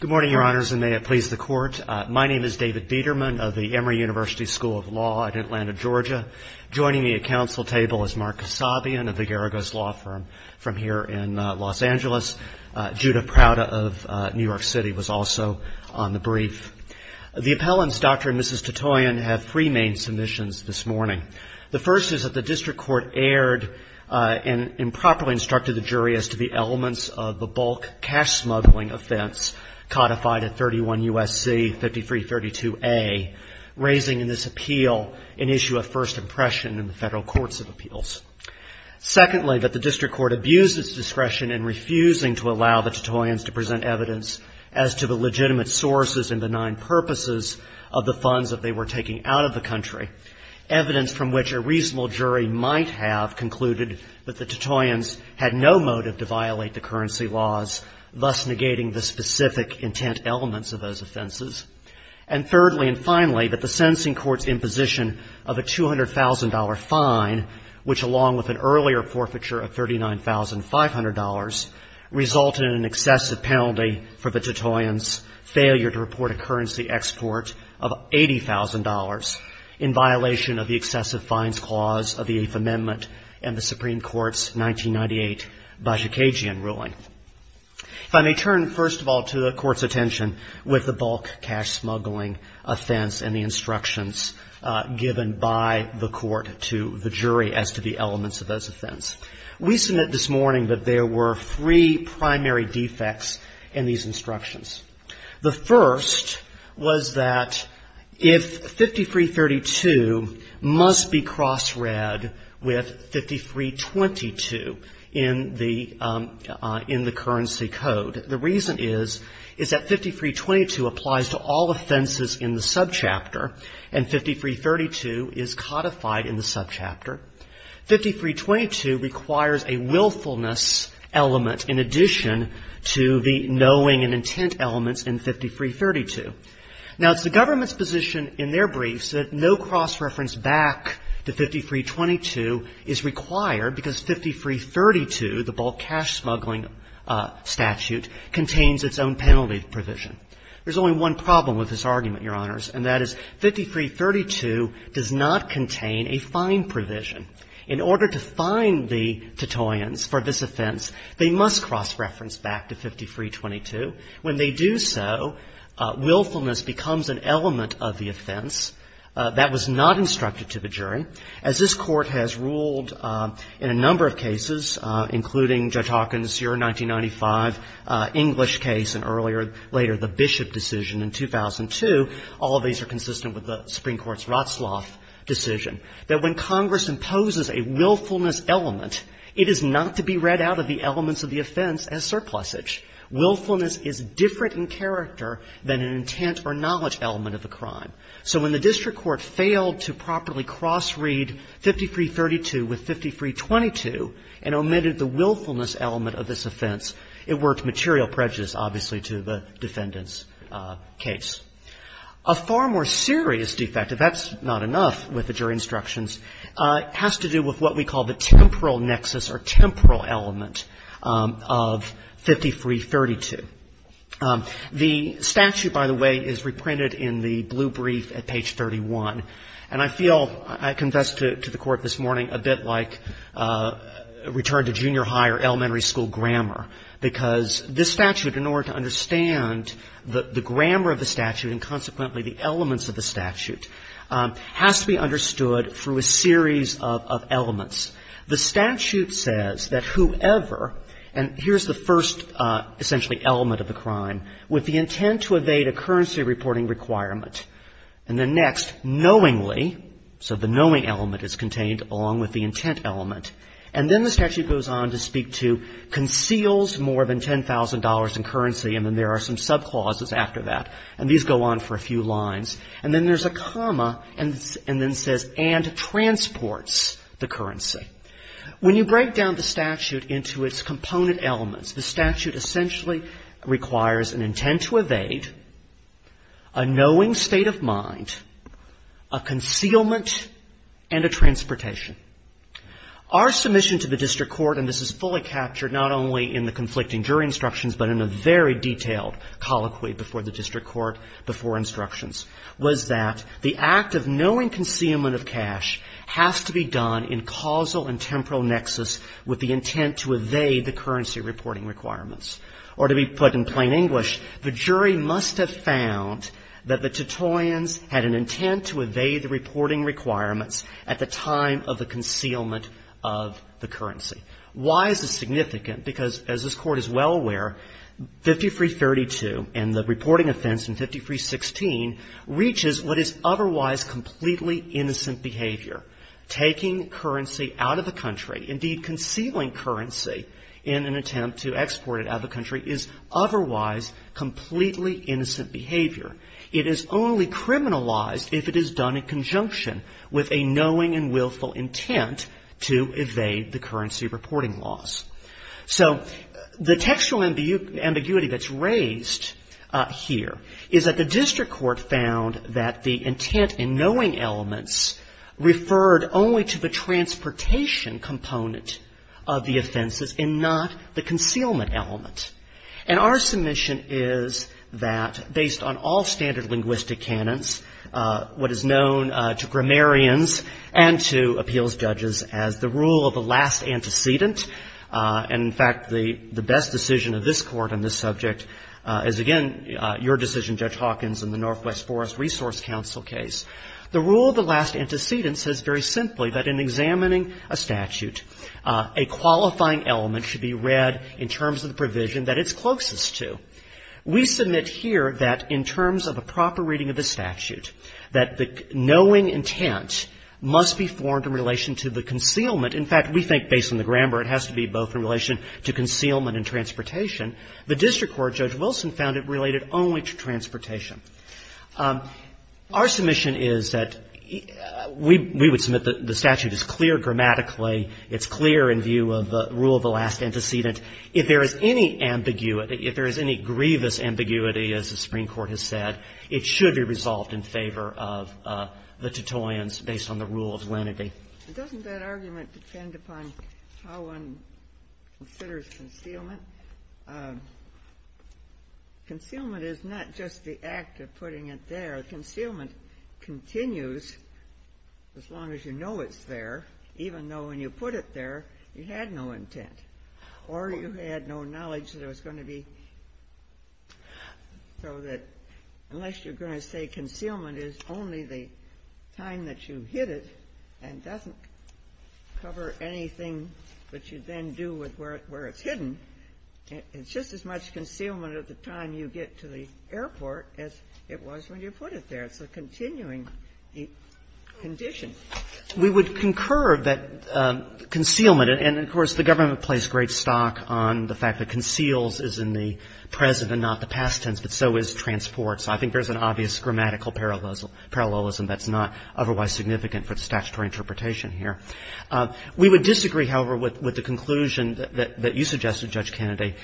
Good morning, your honors, and may it please the court. My name is David Biederman of the Emory University School of Law at Atlanta, Georgia. Joining me at council table is Mark Kasabian of the Garagos Law Firm from here in Los Angeles. Judah Prada of New York City was also on the brief. The appellants, Dr. and Mrs. Tatoyan, have three main submissions this morning. The first is that the district court erred and improperly instructed the jury as to the elements of the bulk cash smuggling offense codified at 31 U.S.C. 5332A, raising in this appeal an issue of first impression in the federal courts of appeals. Secondly, that the district court abused its discretion in refusing to allow the Tatoyans to present evidence as to the legitimate sources and benign purposes of the funds that they were taking out of the country, evidence from which a reasonable jury might have concluded that the Tatoyans had no motive to violate the currency laws, thus negating the specific intent elements of those offenses. And thirdly and finally, that the sentencing court's imposition of a $200,000 fine, which along with an earlier forfeiture of $39,500, resulted in an excessive penalty for the Tatoyans' failure to report a currency export of $80,000 in violation of the excessive fines clause of the Eighth Amendment and the Supreme Court's 1998 Bajikagian ruling. If I may turn, first of all, to the Court's attention with the bulk cash smuggling offense and the instructions given by the Court to the jury as to the elements of those offense. We submit this morning that there were three primary defects in these instructions. The first was that if 5332 must be cross-read with 5322 in the currency code. The reason is, is that 5322 applies to all offenses in the subchapter, and 5332 is codified in the statute, requires a willfulness element in addition to the knowing and intent elements in 5332. Now, it's the government's position in their briefs that no cross-reference back to 5322 is required because 5332, the bulk cash smuggling statute, contains its own penalty provision. There's only one problem with this argument, Your Honors, and that is 5332 does not contain a fine provision. In order to fine the Titoians for this offense, they must cross-reference back to 5322. When they do so, willfulness becomes an element of the offense that was not instructed to the jury. As this Court has ruled in a number of cases, including Judge Hawkins' year 1995 English case and earlier later the Bishop decision in 2002, all of these are consistent with the Supreme Court's Ratzlaff decision, that when Congress imposes a willfulness element, it is not to be read out of the elements of the offense as surplusage. Willfulness is different in character than an intent or knowledge element of a crime. So when the district court failed to properly cross-read 5332 with 5322 and omitted the willfulness element of this offense, it worked material prejudice, obviously, to the defendant's case. A far more serious defect, if that's not enough with the jury instructions, has to do with what we call the temporal nexus or temporal element of 5332. The statute, by the way, is reprinted in the blue brief at page 31. And I feel, I confess to the Court this morning, a bit like return to junior high or elementary school grammar, because this statute, in order to understand the grammar of the statute and consequently the elements of the statute, has to be understood through a series of elements. The statute says that whoever — and here's the first essentially element of the crime — with the intent to evade a currency reporting requirement, and then next, knowingly — so the knowing element is contained along with the intent element — and then the statute goes on to speak to conceals more than $10,000 in currency, and then there are some sub-clauses after that. And these go on for a few lines. And then there's a comma, and then says, and transports the currency. When you break down the statute into its component elements, the statute essentially requires an intent to evade, a knowing state of mind, a concealment, and a transportation. Our submission to the District Court — and this is fully captured not only in the conflicting jury instructions but in a very detailed colloquy before the District Court, before instructions — was that the act of knowing concealment of cash has to be done in causal and temporal We put in plain English, the jury must have found that the Titoians had an intent to evade the reporting requirements at the time of the concealment of the currency. Why is this significant? Because, as this Court is well aware, 50-332 and the reporting offense in 50-316 reaches what is otherwise completely innocent behavior. Taking currency out of the country, indeed concealing currency in an attempt to export it out of the country, is otherwise completely innocent behavior. It is only criminalized if it is done in conjunction with a knowing and willful intent to evade the currency reporting laws. So the textual ambiguity that's raised here is that the District Court found that the intent in knowing elements referred only to the transportation component of the offenses and not the concealment element. And our submission is that, based on all standard linguistic canons, what is known to grammarians and to appeals judges as the rule of the last antecedent — and, in fact, the best decision of this Court on this subject is, again, your decision, Judge Hawkins, in the Northwest Forest Resource Council case — the rule of the last antecedent says very simply that in examining a statute, a qualifying element should be read in terms of the provision that it's closest to. We submit here that, in terms of a proper reading of the statute, that the knowing intent must be formed in relation to the concealment. In fact, we think, based on the grammar, it has to be both in relation to concealment and transportation. The District Court, Judge Hawkins, we would submit that the statute is clear grammatically. It's clear in view of the rule of the last antecedent. If there is any ambiguity — if there is any grievous ambiguity, as the Supreme Court has said, it should be resolved in favor of the tutoyens based on the rule of lenity. Ginsburg. Doesn't that argument depend upon how one considers concealment? Concealment is not just the act of putting it there. Concealment continues as long as you know it's there, even though when you put it there, you had no intent or you had no knowledge that it was going to be — so that unless you're going to say concealment is only the time that you hid it and doesn't cover anything that you then do with where it's hidden, it's just as much concealment at the time you get to the airport as it was when you put it there. It's a continuing condition. We would concur that concealment — and, of course, the government plays great stock on the fact that conceals is in the present and not the past tense, but so is transport. So I think there's an obvious grammatical parallelism that's not otherwise significant for the statutory interpretation here. We would disagree, however, with the conclusion that you suggested, Judge Kennedy.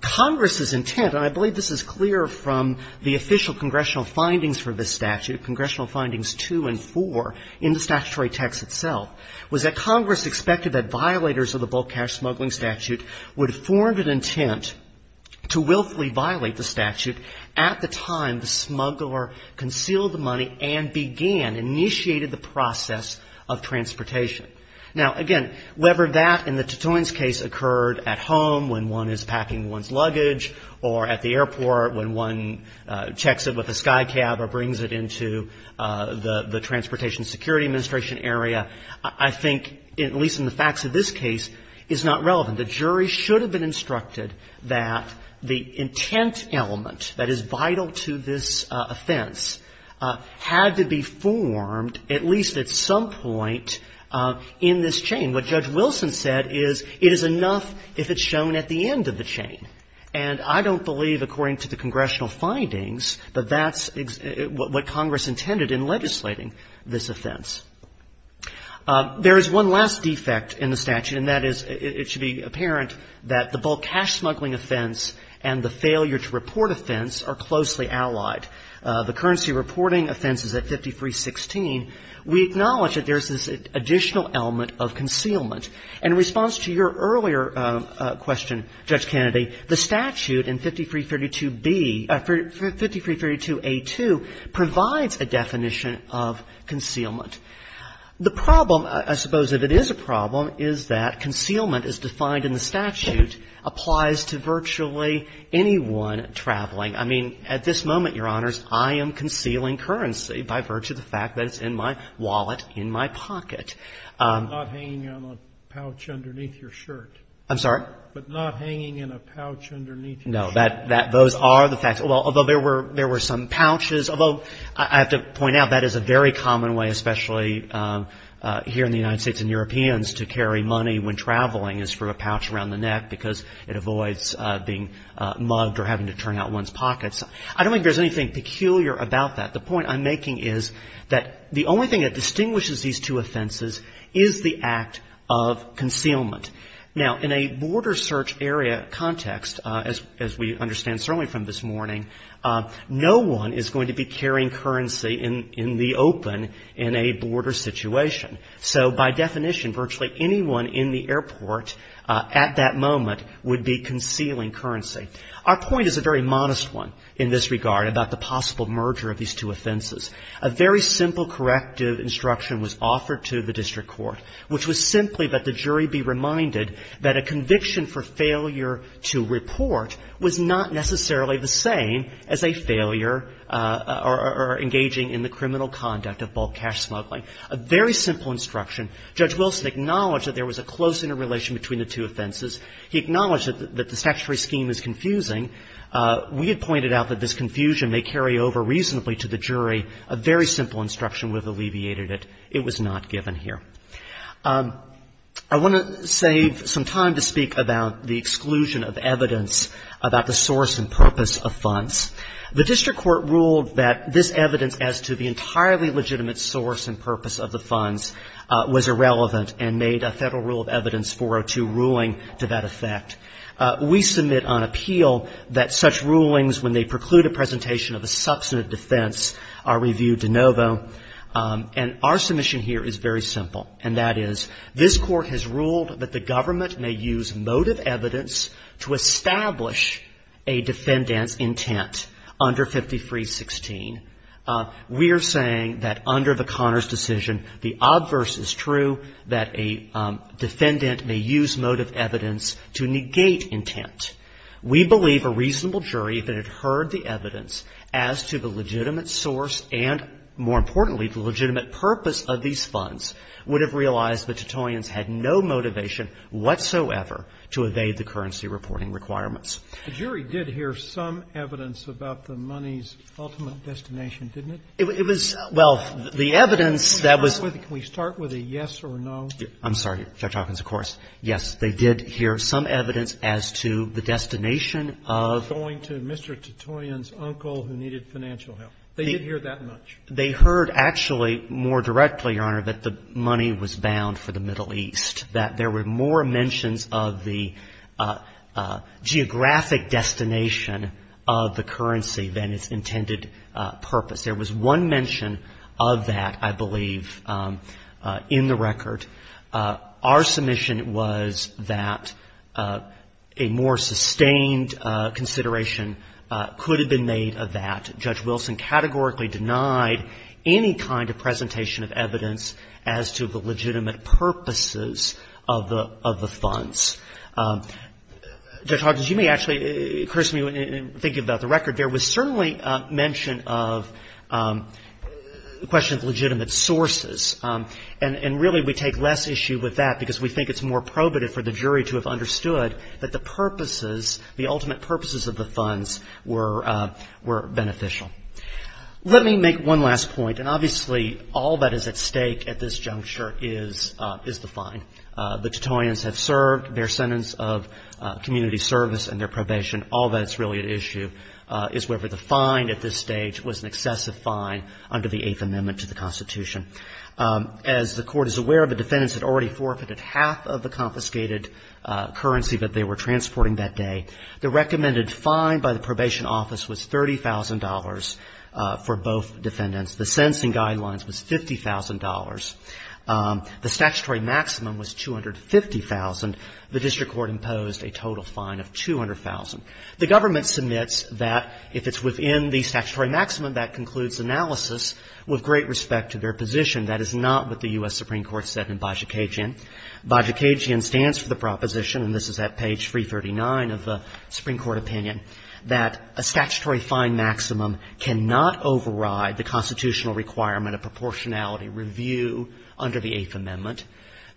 Congress's intent — and I believe this is clear from the official congressional findings for this statute, Congressional Findings 2 and 4 in the statutory text itself — was that Congress expected that violators of the bulk cash smuggling statute would form an intent to willfully violate the statute at the time the smuggler concealed the money and began, initiated the process of transportation. Now, again, whether that in the Titoian's case occurred at home when one is packing one's luggage or at the airport when one checks it with a SkyCab or brings it into the Transportation Security Administration area, I think, at least in the facts of this case, is not relevant. The jury should have been instructed that the intent element that is vital to this offense had to be formed at least at some point in this chain. What Judge Wilson said is it is enough if it's shown at the end of the chain. And I don't believe, according to the congressional findings, that that's what Congress intended in legislating this offense. There is one last defect in the statute, and that is it should be apparent that the are closely allied. The currency reporting offense is at 5316. We acknowledge that there is this additional element of concealment. And in response to your earlier question, Judge Kennedy, the statute in 5332B — 5332A2 provides a definition of concealment. The problem, I suppose, if it is a problem, is that concealment as defined in the statute applies to virtually anyone traveling. I mean, at this moment, Your Honors, I am concealing currency by virtue of the fact that it's in my wallet, in my pocket. I'm not hanging on a pouch underneath your shirt. I'm sorry? But not hanging in a pouch underneath your shirt. No. Those are the facts. Although there were some pouches, although I have to point out that is a very common way, especially here in the United States and Europeans, to carry money when traveling is through a pouch around the neck because it avoids being mugged or having to turn out one's pockets. I don't think there's anything peculiar about that. The point I'm making is that the only thing that distinguishes these two offenses is the act of concealment. Now, in a border search area context, as we understand certainly from this morning, no one is going to be carrying currency in the open in a border situation. So by definition, virtually anyone in the airport at that moment would be concealing currency. Our point is a very modest one in this regard about the possible merger of these two offenses. A very simple corrective instruction was offered to the district court, which was simply that the jury be reminded that a conviction for failure to report was not necessarily the same as a failure or engaging in the criminal conduct of bulk cash smuggling. A very simple instruction. Judge Wilson acknowledged that there was a close interrelation between the two offenses. He acknowledged that the statutory scheme is confusing. We had pointed out that this confusion may carry over reasonably to the jury. A very simple instruction would have alleviated it. It was not given here. I want to save some time to speak about the exclusion of evidence about the source and purpose of funds. The district court ruled that this evidence as to the entirely legitimate source and purpose of the funds was irrelevant and made a Federal Rule of Evidence 402 ruling to that effect. We submit on appeal that such rulings, when they preclude a presentation of a substantive defense, are reviewed de novo. And our submission here is very simple, and that is this Court has ruled that the obverse is true, that a defendant may use motive evidence to negate intent. We believe a reasonable jury, if it had heard the evidence as to the legitimate source and, more importantly, the legitimate purpose of these funds, would have realized the Titoians had no motivation whatsoever to evade the currency reporting requirements. The jury did hear some evidence about the money's ultimate destination, didn't it? It was — well, the evidence that was — Can we start with a yes or a no? I'm sorry, Judge Hawkins, of course. Yes, they did hear some evidence as to the destination of — Going to Mr. Titoian's uncle who needed financial help. They did hear that much. They heard, actually, more directly, Your Honor, that the money was bound for the Middle East, that there were more mentions of the geographic destination of the currency than its intended purpose. There was one mention of that, I believe, in the record. Our submission was that a more sustained consideration could have been made of that. Judge Wilson categorically denied any kind of presentation of evidence as to the legitimate purposes of the funds. Judge Hawkins, you may actually curse me when you think about the record. There was certainly mention of the question of legitimate sources. And really, we take less issue with that because we think it's more probative for the jury to have understood that the purposes, the ultimate purposes of the funds were beneficial. Let me make one last point. And obviously, all that is at stake at this juncture is the fine. The Titoians have served their sentence of community service and their probation. All that's really at issue is whether the fine at this stage was an excessive fine under the Eighth Amendment to the Constitution. As the Court is aware, the defendants had already forfeited half of the confiscated currency that they were transporting that day. The recommended fine by the probation office was $30,000 for both defendants. The sentencing guidelines was $50,000. The statutory maximum was $250,000. The district court imposed a total fine of $200,000. The government submits that if it's within the statutory maximum, that concludes analysis with great respect to their position. That is not what the U.S. Supreme Court said in Bajikajian. Bajikajian stands for the proposition, and this is at page 339 of the Supreme Court opinion, that a statutory fine maximum cannot override the constitutional requirement of proportionality review under the Eighth Amendment.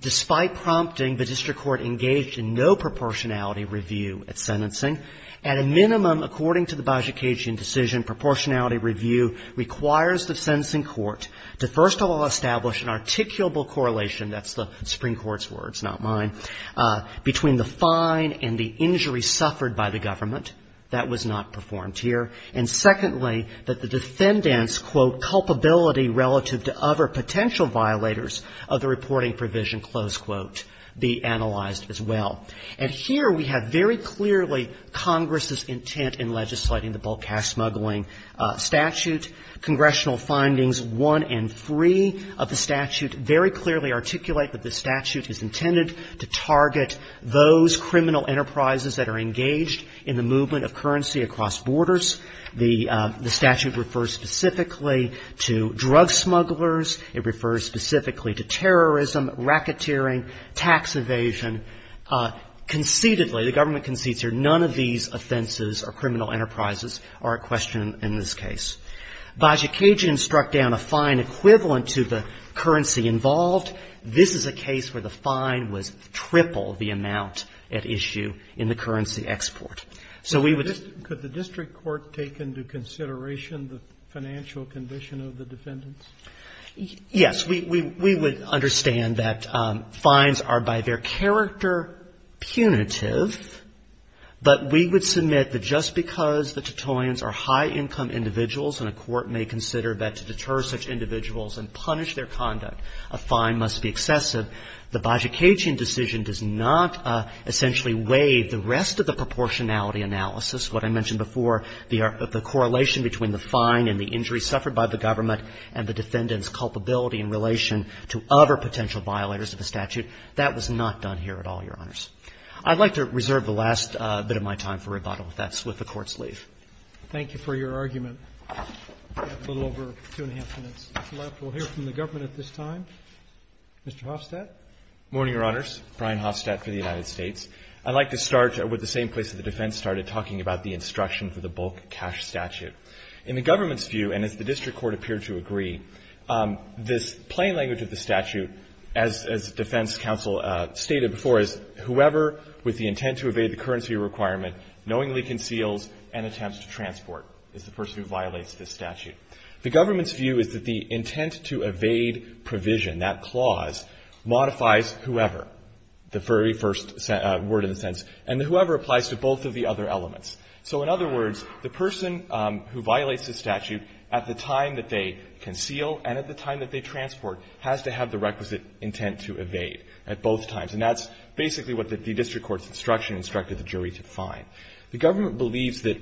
Despite prompting, the district court engaged in no proportionality review at sentencing. At a minimum, according to the Bajikajian decision, proportionality review requires to first of all establish an articulable correlation, that's the Supreme Court's words, not mine, between the fine and the injury suffered by the government. That was not performed here. And secondly, that the defendant's, quote, culpability relative to other potential violators of the reporting provision, close quote, be analyzed as well. And here we have very clearly Congress's intent in legislating the bulk cash smuggling statute. Congressional findings one and three of the statute very clearly articulate that the statute is intended to target those criminal enterprises that are engaged in the movement of currency across borders. The statute refers specifically to drug smugglers. It refers specifically to terrorism, racketeering, tax evasion. Concededly, the government concedes here none of these offenses or criminal enterprises are a question in this case. Bajikajian struck down a fine equivalent to the currency involved. This is a case where the fine was triple the amount at issue in the currency export. So we would just Roberts. Could the district court take into consideration the financial condition of the defendants? Yes. We would understand that fines are by their character punitive, but we would submit that just because the Titoians are high-income individuals and a court may consider that to deter such individuals and punish their conduct, a fine must be excessive, the Bajikajian decision does not essentially waive the rest of the proportionality analysis, what I mentioned before, the correlation between the fine and the injury suffered by the government and the defendant's culpability in relation to other potential violators of the statute. That was not done here at all, Your Honors. I'd like to reserve the last bit of my time for rebuttal. That's with the Court's leave. Thank you for your argument. We have a little over two and a half minutes left. We'll hear from the government at this time. Mr. Hofstadt. Good morning, Your Honors. Brian Hofstadt for the United States. I'd like to start with the same place that the defense started talking about the instruction for the bulk cash statute. In the government's view, and as the district court appeared to agree, this plain language of the statute, as defense counsel stated before, is whoever with the intent to evade the currency requirement knowingly conceals and attempts to transport is the person who violates this statute. The government's view is that the intent to evade provision, that clause, modifies whoever, the very first word in the sentence, and the whoever applies to both of the other elements. So in other words, the person who violates the statute at the time that they conceal and at the time that they transport has to have the requisite intent to evade at both times, and that's basically what the district court's instruction instructed the jury to find. The government believes that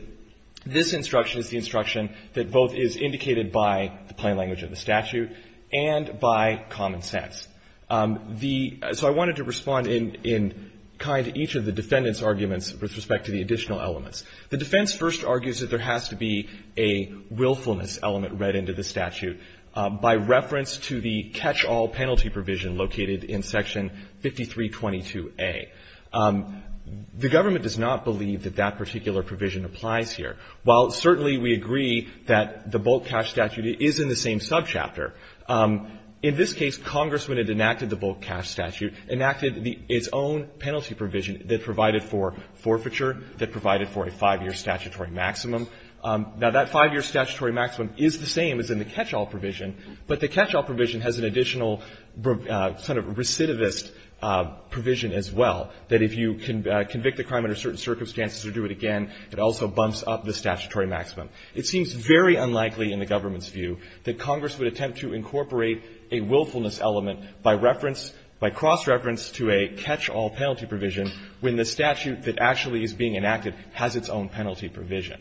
this instruction is the instruction that both is indicated by the plain language of the statute and by common sense. So I wanted to respond in kind to each of the defendant's arguments with respect to the additional elements. The defense first argues that there has to be a willfulness element read into the statute by reference to the catch-all penalty provision located in Section 5322A. The government does not believe that that particular provision applies here. While certainly we agree that the bulk cash statute is in the same subchapter, in this case, Congress, when it enacted the bulk cash statute, enacted its own penalty provision that provided for forfeiture, that provided for a five-year statutory maximum. Now, that five-year statutory maximum is the same as in the catch-all provision, but the catch-all provision has an additional sort of recidivist provision as well, that if you can convict a crime under certain circumstances or do it again, it also bumps up the statutory maximum. It seems very unlikely in the government's view that Congress would attempt to incorporate a willfulness element by reference, by cross-reference to a catch-all penalty provision when the statute that actually is being enacted has its own penalty provision.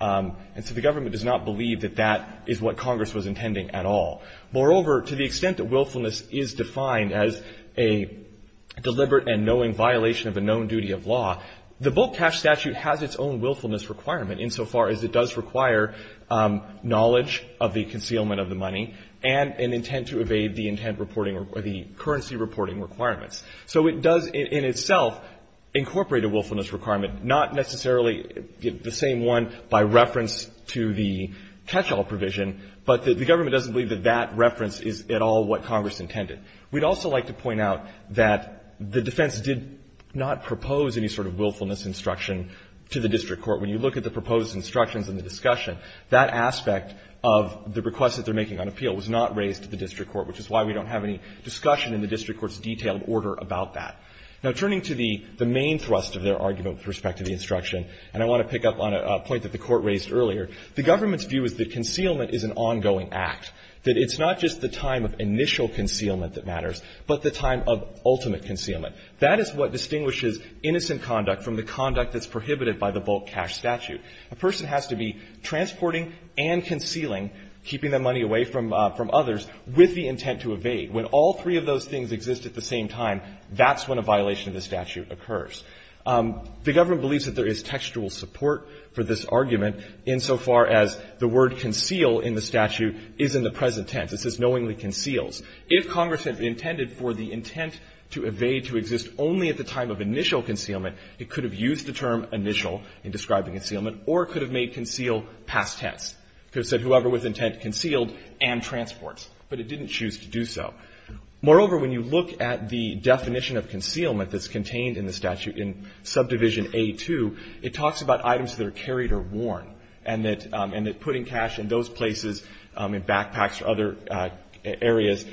And so the government does not believe that that is what Congress was intending at all. Moreover, to the extent that willfulness is defined as a deliberate and knowing violation of a known duty of law, the bulk cash statute has its own willfulness requirement, insofar as it does require knowledge of the concealment of the money and an intent to evade the intent reporting or the currency reporting requirements. So it does, in itself, incorporate a willfulness requirement, not necessarily the same one by reference to the catch-all provision, but the government doesn't believe that that reference is at all what Congress intended. We'd also like to point out that the defense did not propose any sort of willfulness instruction to the district court. When you look at the proposed instructions in the discussion, that aspect of the request that they're making on appeal was not raised to the district court, which is why we don't have any discussion in the district court's detailed order about that. Now, turning to the main thrust of their argument with respect to the instruction, and I want to pick up on a point that the Court raised earlier, the government's view is that concealment is an ongoing act, that it's not just the time of initial concealment that matters, but the time of ultimate concealment. That is what distinguishes innocent conduct from the conduct that's prohibited by the bulk cash statute. A person has to be transporting and concealing, keeping that money away from others, with the intent to evade. When all three of those things exist at the same time, that's when a violation of the statute occurs. The government believes that there is textual support for this argument, insofar as the word conceal in the statute is in the present tense. It says knowingly conceals. If Congress had intended for the intent to evade to exist only at the time of initial concealment, it could have used the term initial in describing concealment, or it could have made conceal past tense. It could have said whoever with intent concealed and transports, but it didn't choose to do so. Moreover, when you look at the definition of concealment that's contained in the statute in subdivision A-2, it talks about items that are carried or worn, and that putting cash in those places, in backpacks or other areas,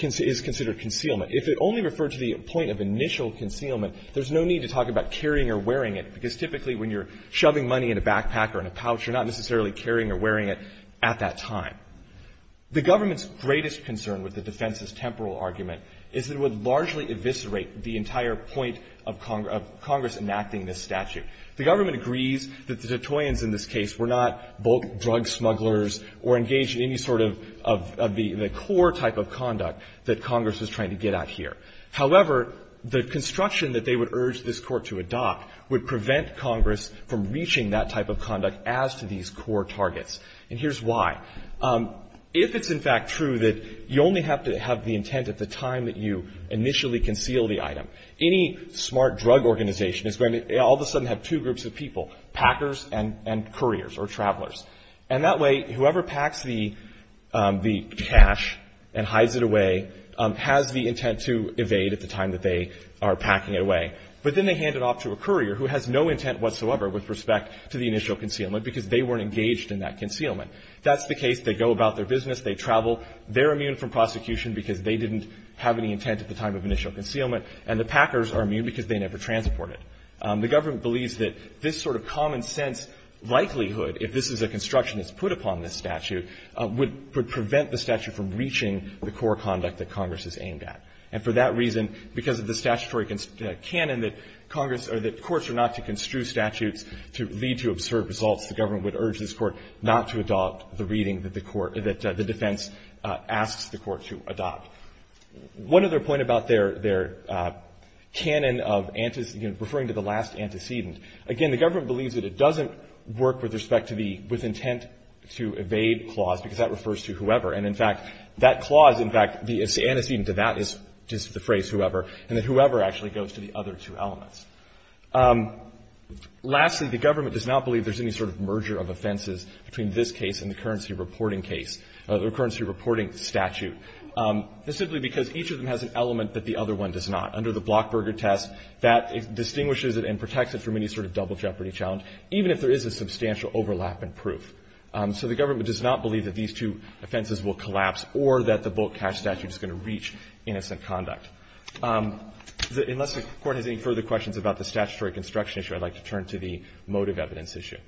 is considered concealment. If it only referred to the point of initial concealment, there's no need to talk about carrying or wearing it, because typically when you're shoving money in a backpack or in a pouch, you're not necessarily carrying or wearing it at that time. The government's greatest concern with the defense's temporal argument is that it would largely eviscerate the entire point of Congress enacting this statute. The government agrees that the Detroitians in this case were not bulk drug smugglers or engaged in any sort of the core type of conduct that Congress was trying to get at here. However, the construction that they would urge this Court to adopt would prevent Congress from reaching that type of conduct as to these core targets. And here's why. If it's, in fact, true that you only have to have the intent at the time that you initially conceal the item, any smart drug organization is going to all of a sudden have two groups of people, packers and couriers or travelers. And that way, whoever packs the cash and hides it away has the intent to evade at the time that they are packing it away. But then they hand it off to a courier who has no intent whatsoever with respect to the initial concealment, because they weren't engaged in that concealment. That's the case. They go about their business. They travel. They're immune from prosecution because they didn't have any intent at the time of initial concealment. And the packers are immune because they never transport it. The government believes that this sort of common sense likelihood, if this is a construction that's put upon this statute, would prevent the statute from reaching the core conduct that Congress is aimed at. And for that reason, because of the statutory canon that Congress or that courts are not to construe statutes to lead to absurd results, the government would urge this Court not to adopt the reading that the defense asks the Court to adopt. One other point about their canon of referring to the last antecedent, again, the government believes that it doesn't work with respect to the with intent to evade clause, because that refers to whoever. And in fact, that clause, in fact, the antecedent to that is just the phrase whoever, and that whoever actually goes to the other two elements. Lastly, the government does not believe there's any sort of merger of offenses between this case and the currency reporting case, the currency reporting statute. That's simply because each of them has an element that the other one does not. Under the Blockberger test, that distinguishes it and protects it from any sort of double jeopardy challenge, even if there is a substantial overlap in proof. So the government does not believe that these two offenses will collapse or that the Bolk cash statute is going to reach innocent conduct. Unless the Court has any further questions about the statutory construction issue, I'd like to turn to the motive evidence issue.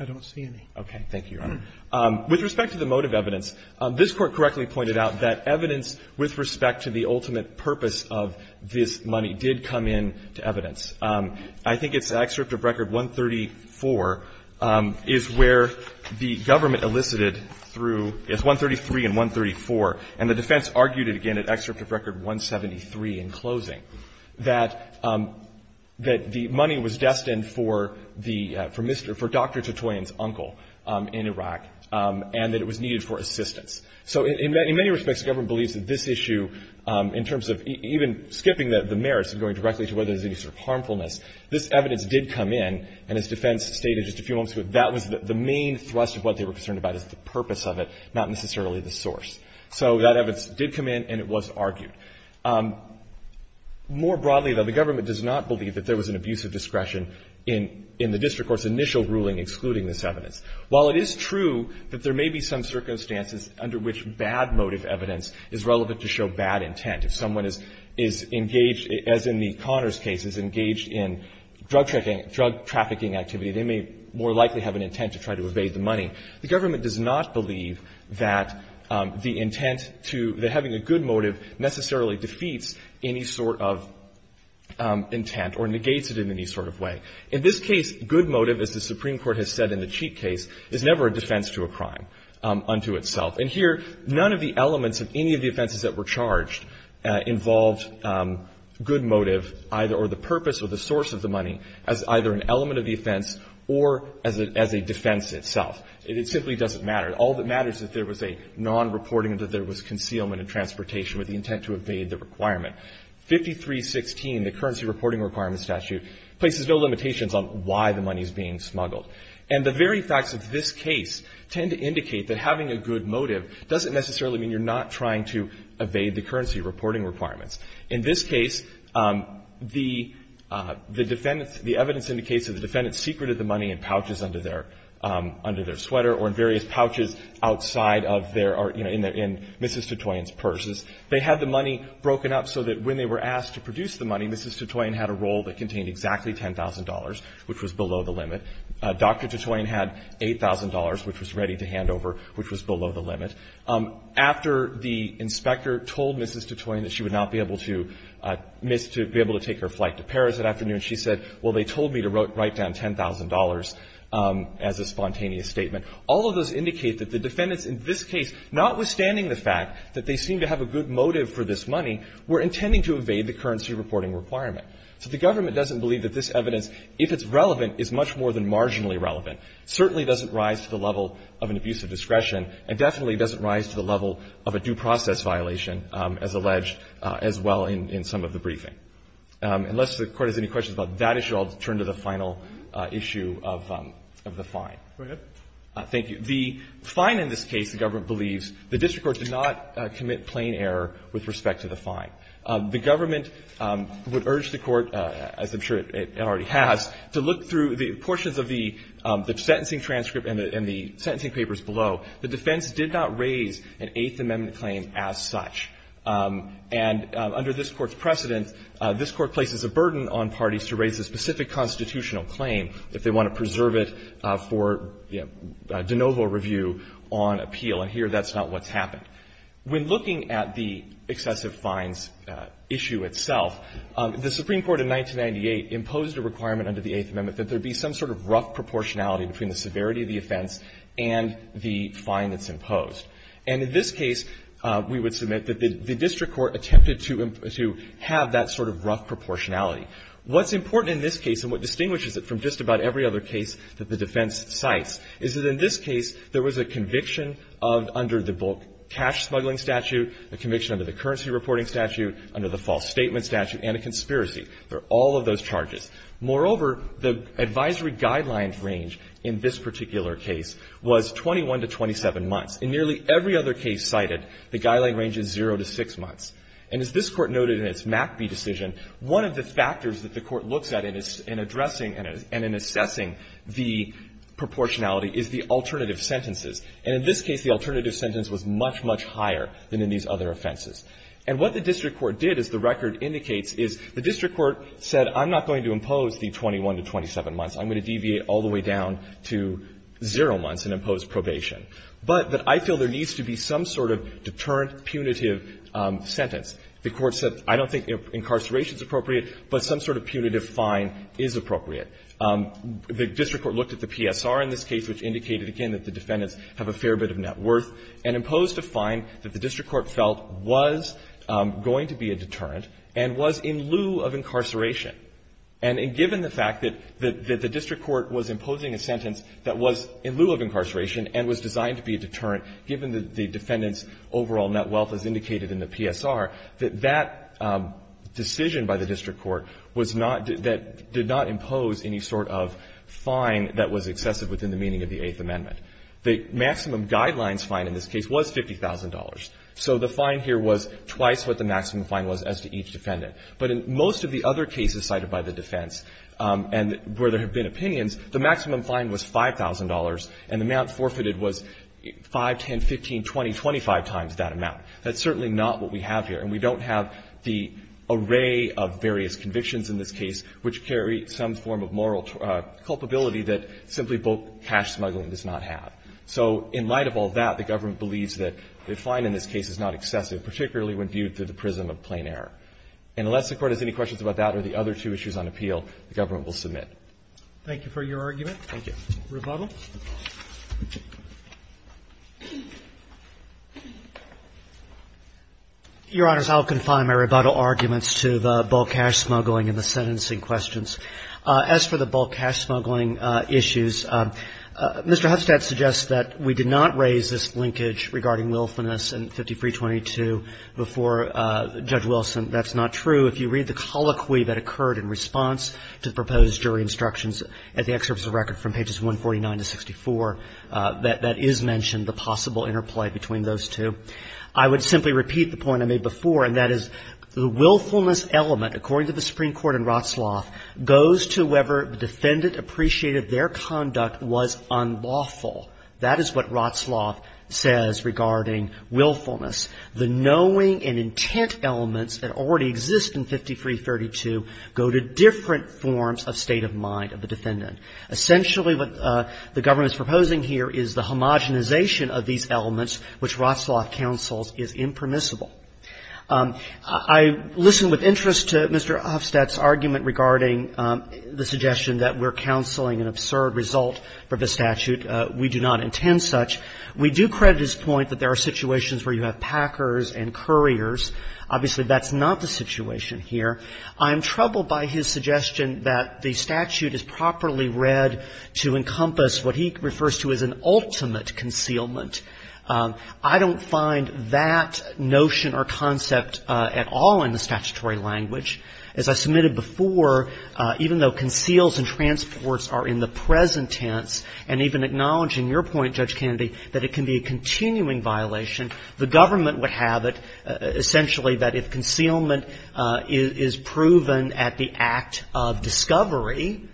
I don't see any. Okay. Thank you, Your Honor. With respect to the motive evidence, this Court correctly pointed out that evidence with respect to the ultimate purpose of this money did come into evidence. I think it's an excerpt of Record 134 is where the government elicited through 133 and 134, and the defense argued it again at Excerpt of Record 173 in closing, that the money was destined for the Mr. or Dr. Titoyan's uncle in Iraq. And that it was needed for assistance. So in many respects, the government believes that this issue, in terms of even skipping the merits and going directly to whether there's any sort of harmfulness, this evidence did come in, and as defense stated just a few moments ago, that was the main thrust of what they were concerned about is the purpose of it, not necessarily the source. So that evidence did come in and it was argued. More broadly, though, the government does not believe that there was an abuse of discretion in the district court's initial ruling excluding this evidence. While it is true that there may be some circumstances under which bad motive evidence is relevant to show bad intent. If someone is engaged, as in the Connors case, is engaged in drug trafficking activity, they may more likely have an intent to try to evade the money. The government does not believe that the intent to the having a good motive necessarily defeats any sort of intent or negates it in any sort of way. In this case, good motive, as the Supreme Court has said in the Cheek case, is never a defense to a crime unto itself. And here, none of the elements of any of the offenses that were charged involved good motive either or the purpose or the source of the money as either an element of the offense or as a defense itself. It simply doesn't matter. All that matters is that there was a nonreporting and that there was concealment of transportation with the intent to evade the requirement. 5316, the Currency Reporting Requirements Statute, places no limitations on why the money is being smuggled. And the very facts of this case tend to indicate that having a good motive doesn't necessarily mean you're not trying to evade the currency reporting requirements. In this case, the defendant's, the evidence indicates that the defendant secreted the money in pouches under their, under their sweater or in various pouches outside of their, you know, in Mrs. Titoyen's purses. They had the money broken up so that when they were asked to produce the money, Mrs. Titoyen had a roll that contained exactly $10,000, which was below the limit. Dr. Titoyen had $8,000, which was ready to hand over, which was below the limit. After the inspector told Mrs. Titoyen that she would not be able to miss, to be able to take her flight to Paris that afternoon, she said, well, they told me to write down $10,000 as a spontaneous statement. All of those indicate that the defendants in this case, notwithstanding the fact that they seem to have a good motive for this money, were intending to evade the currency reporting requirement. So the government doesn't believe that this evidence, if it's relevant, is much more than marginally relevant. It certainly doesn't rise to the level of an abuse of discretion. It definitely doesn't rise to the level of a due process violation, as alleged, as well in some of the briefing. Unless the Court has any questions about that issue, I'll turn to the final issue of the fine. Go ahead. Thank you. The fine in this case, the government believes, the district court did not commit plain error with respect to the fine. The government would urge the Court, as I'm sure it already has, to look through the portions of the sentencing transcript and the sentencing papers below. The defense did not raise an Eighth Amendment claim as such. And under this Court's precedent, this Court places a burden on parties to raise a specific constitutional claim if they want to preserve it for de novo review on appeal. And here, that's not what's happened. When looking at the excessive fines issue itself, the Supreme Court in 1998 imposed a requirement under the Eighth Amendment that there be some sort of rough proportionality between the severity of the offense and the fine that's imposed. And in this case, we would submit that the district court attempted to have that sort of rough proportionality. What's important in this case and what distinguishes it from just about every other case that the defense cites is that in this case, there was a conviction of under the bulk cash smuggling statute, a conviction under the currency reporting statute, under the false statement statute, and a conspiracy for all of those charges. Moreover, the advisory guidelines range in this particular case was 21 to 27 months. In nearly every other case cited, the guideline range is zero to six months. And as this Court noted in its MACB decision, one of the factors that the Court looks at in addressing and in assessing the proportionality is the alternative sentences. And in this case, the alternative sentence was much, much higher than in these other offenses. And what the district court did, as the record indicates, is the district court said, I'm not going to impose the 21 to 27 months. I'm going to deviate all the way down to zero months and impose probation. But that I feel there needs to be some sort of deterrent, punitive sentence. The Court said, I don't think incarceration is appropriate, but some sort of punitive fine is appropriate. The district court looked at the PSR in this case, which indicated, again, that the defendants have a fair bit of net worth, and imposed a fine that the district court felt was going to be a deterrent and was in lieu of incarceration. And given the fact that the district court was imposing a sentence that was in lieu of incarceration and was designed to be a deterrent, given the defendant's overall net wealth, as indicated in the PSR, that that decision by the district court was not — that did not impose any sort of fine that was excessive within the meaning of the Eighth Amendment. The maximum guidelines fine in this case was $50,000. So the fine here was twice what the maximum fine was as to each defendant. But in most of the other cases cited by the defense, and where there have been exceptions, the fine was $50,000, and the amount forfeited was 5, 10, 15, 20, 25 times that amount. That's certainly not what we have here. And we don't have the array of various convictions in this case which carry some form of moral culpability that simply cash smuggling does not have. So in light of all that, the government believes that the fine in this case is not excessive, particularly when viewed through the prism of plain error. And unless the Court has any questions about that or the other two issues on appeal, the government will submit. Roberts. Thank you for your argument. Rebuttal. Your Honors, I'll confine my rebuttal arguments to the bulk cash smuggling and the sentencing questions. As for the bulk cash smuggling issues, Mr. Huffstad suggests that we did not raise this linkage regarding willfulness in 5322 before Judge Wilson. That's not true. If you read the colloquy that occurred in response to the proposed jury instructions at the excerpt of the record from pages 149 to 64, that is mentioned, the possible interplay between those two. I would simply repeat the point I made before, and that is the willfulness element, according to the Supreme Court and Rotsloff, goes to whoever the defendant appreciated their conduct was unlawful. That is what Rotsloff says regarding willfulness. The knowing and intent elements that already exist in 5332 go to different forms of state of mind of the defendant. Essentially what the government is proposing here is the homogenization of these elements which Rotsloff counsels is impermissible. I listen with interest to Mr. Huffstad's argument regarding the suggestion that we're counseling an absurd result for this statute. We do not intend such. We do credit his point that there are situations where you have packers and couriers. Obviously, that's not the situation here. I'm troubled by his suggestion that the statute is properly read to encompass what he refers to as an ultimate concealment. I don't find that notion or concept at all in the statutory language. As I submitted before, even though conceals and transports are in the present tense and even acknowledging your point, Judge Kennedy, that it can be a continuing violation, the government would have it essentially that if concealment is proven at the act of discovery,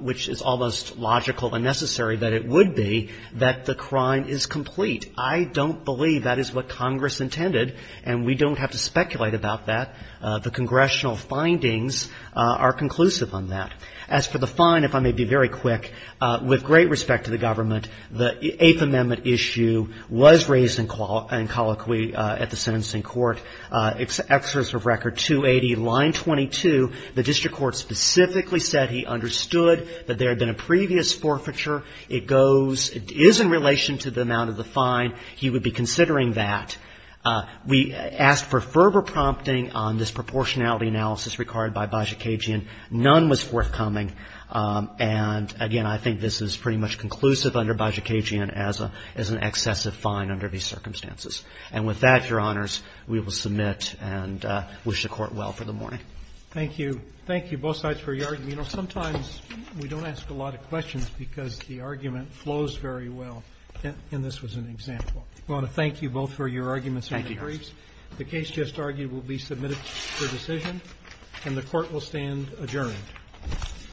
which is almost logical and necessary that it would be, that the crime is complete. I don't believe that is what Congress intended, and we don't have to speculate about that. The congressional findings are conclusive on that. As for the fine, if I may be very quick, with great respect to the government, the Eighth Amendment issue was raised in colloquy at the sentencing court. Excerpts of record 280, line 22, the district court specifically said he understood that there had been a previous forfeiture. It goes, it is in relation to the amount of the fine. He would be considering that. We asked for further prompting on this proportionality analysis required by coming, and again, I think this is pretty much conclusive under Bajicagian as an excessive fine under these circumstances. And with that, Your Honors, we will submit and wish the Court well for the morning. Thank you. Thank you, both sides, for your argument. You know, sometimes we don't ask a lot of questions because the argument flows very well, and this was an example. I want to thank you both for your arguments and your briefs. The case just argued will be submitted for decision, and the Court will stand adjourned. Thank you.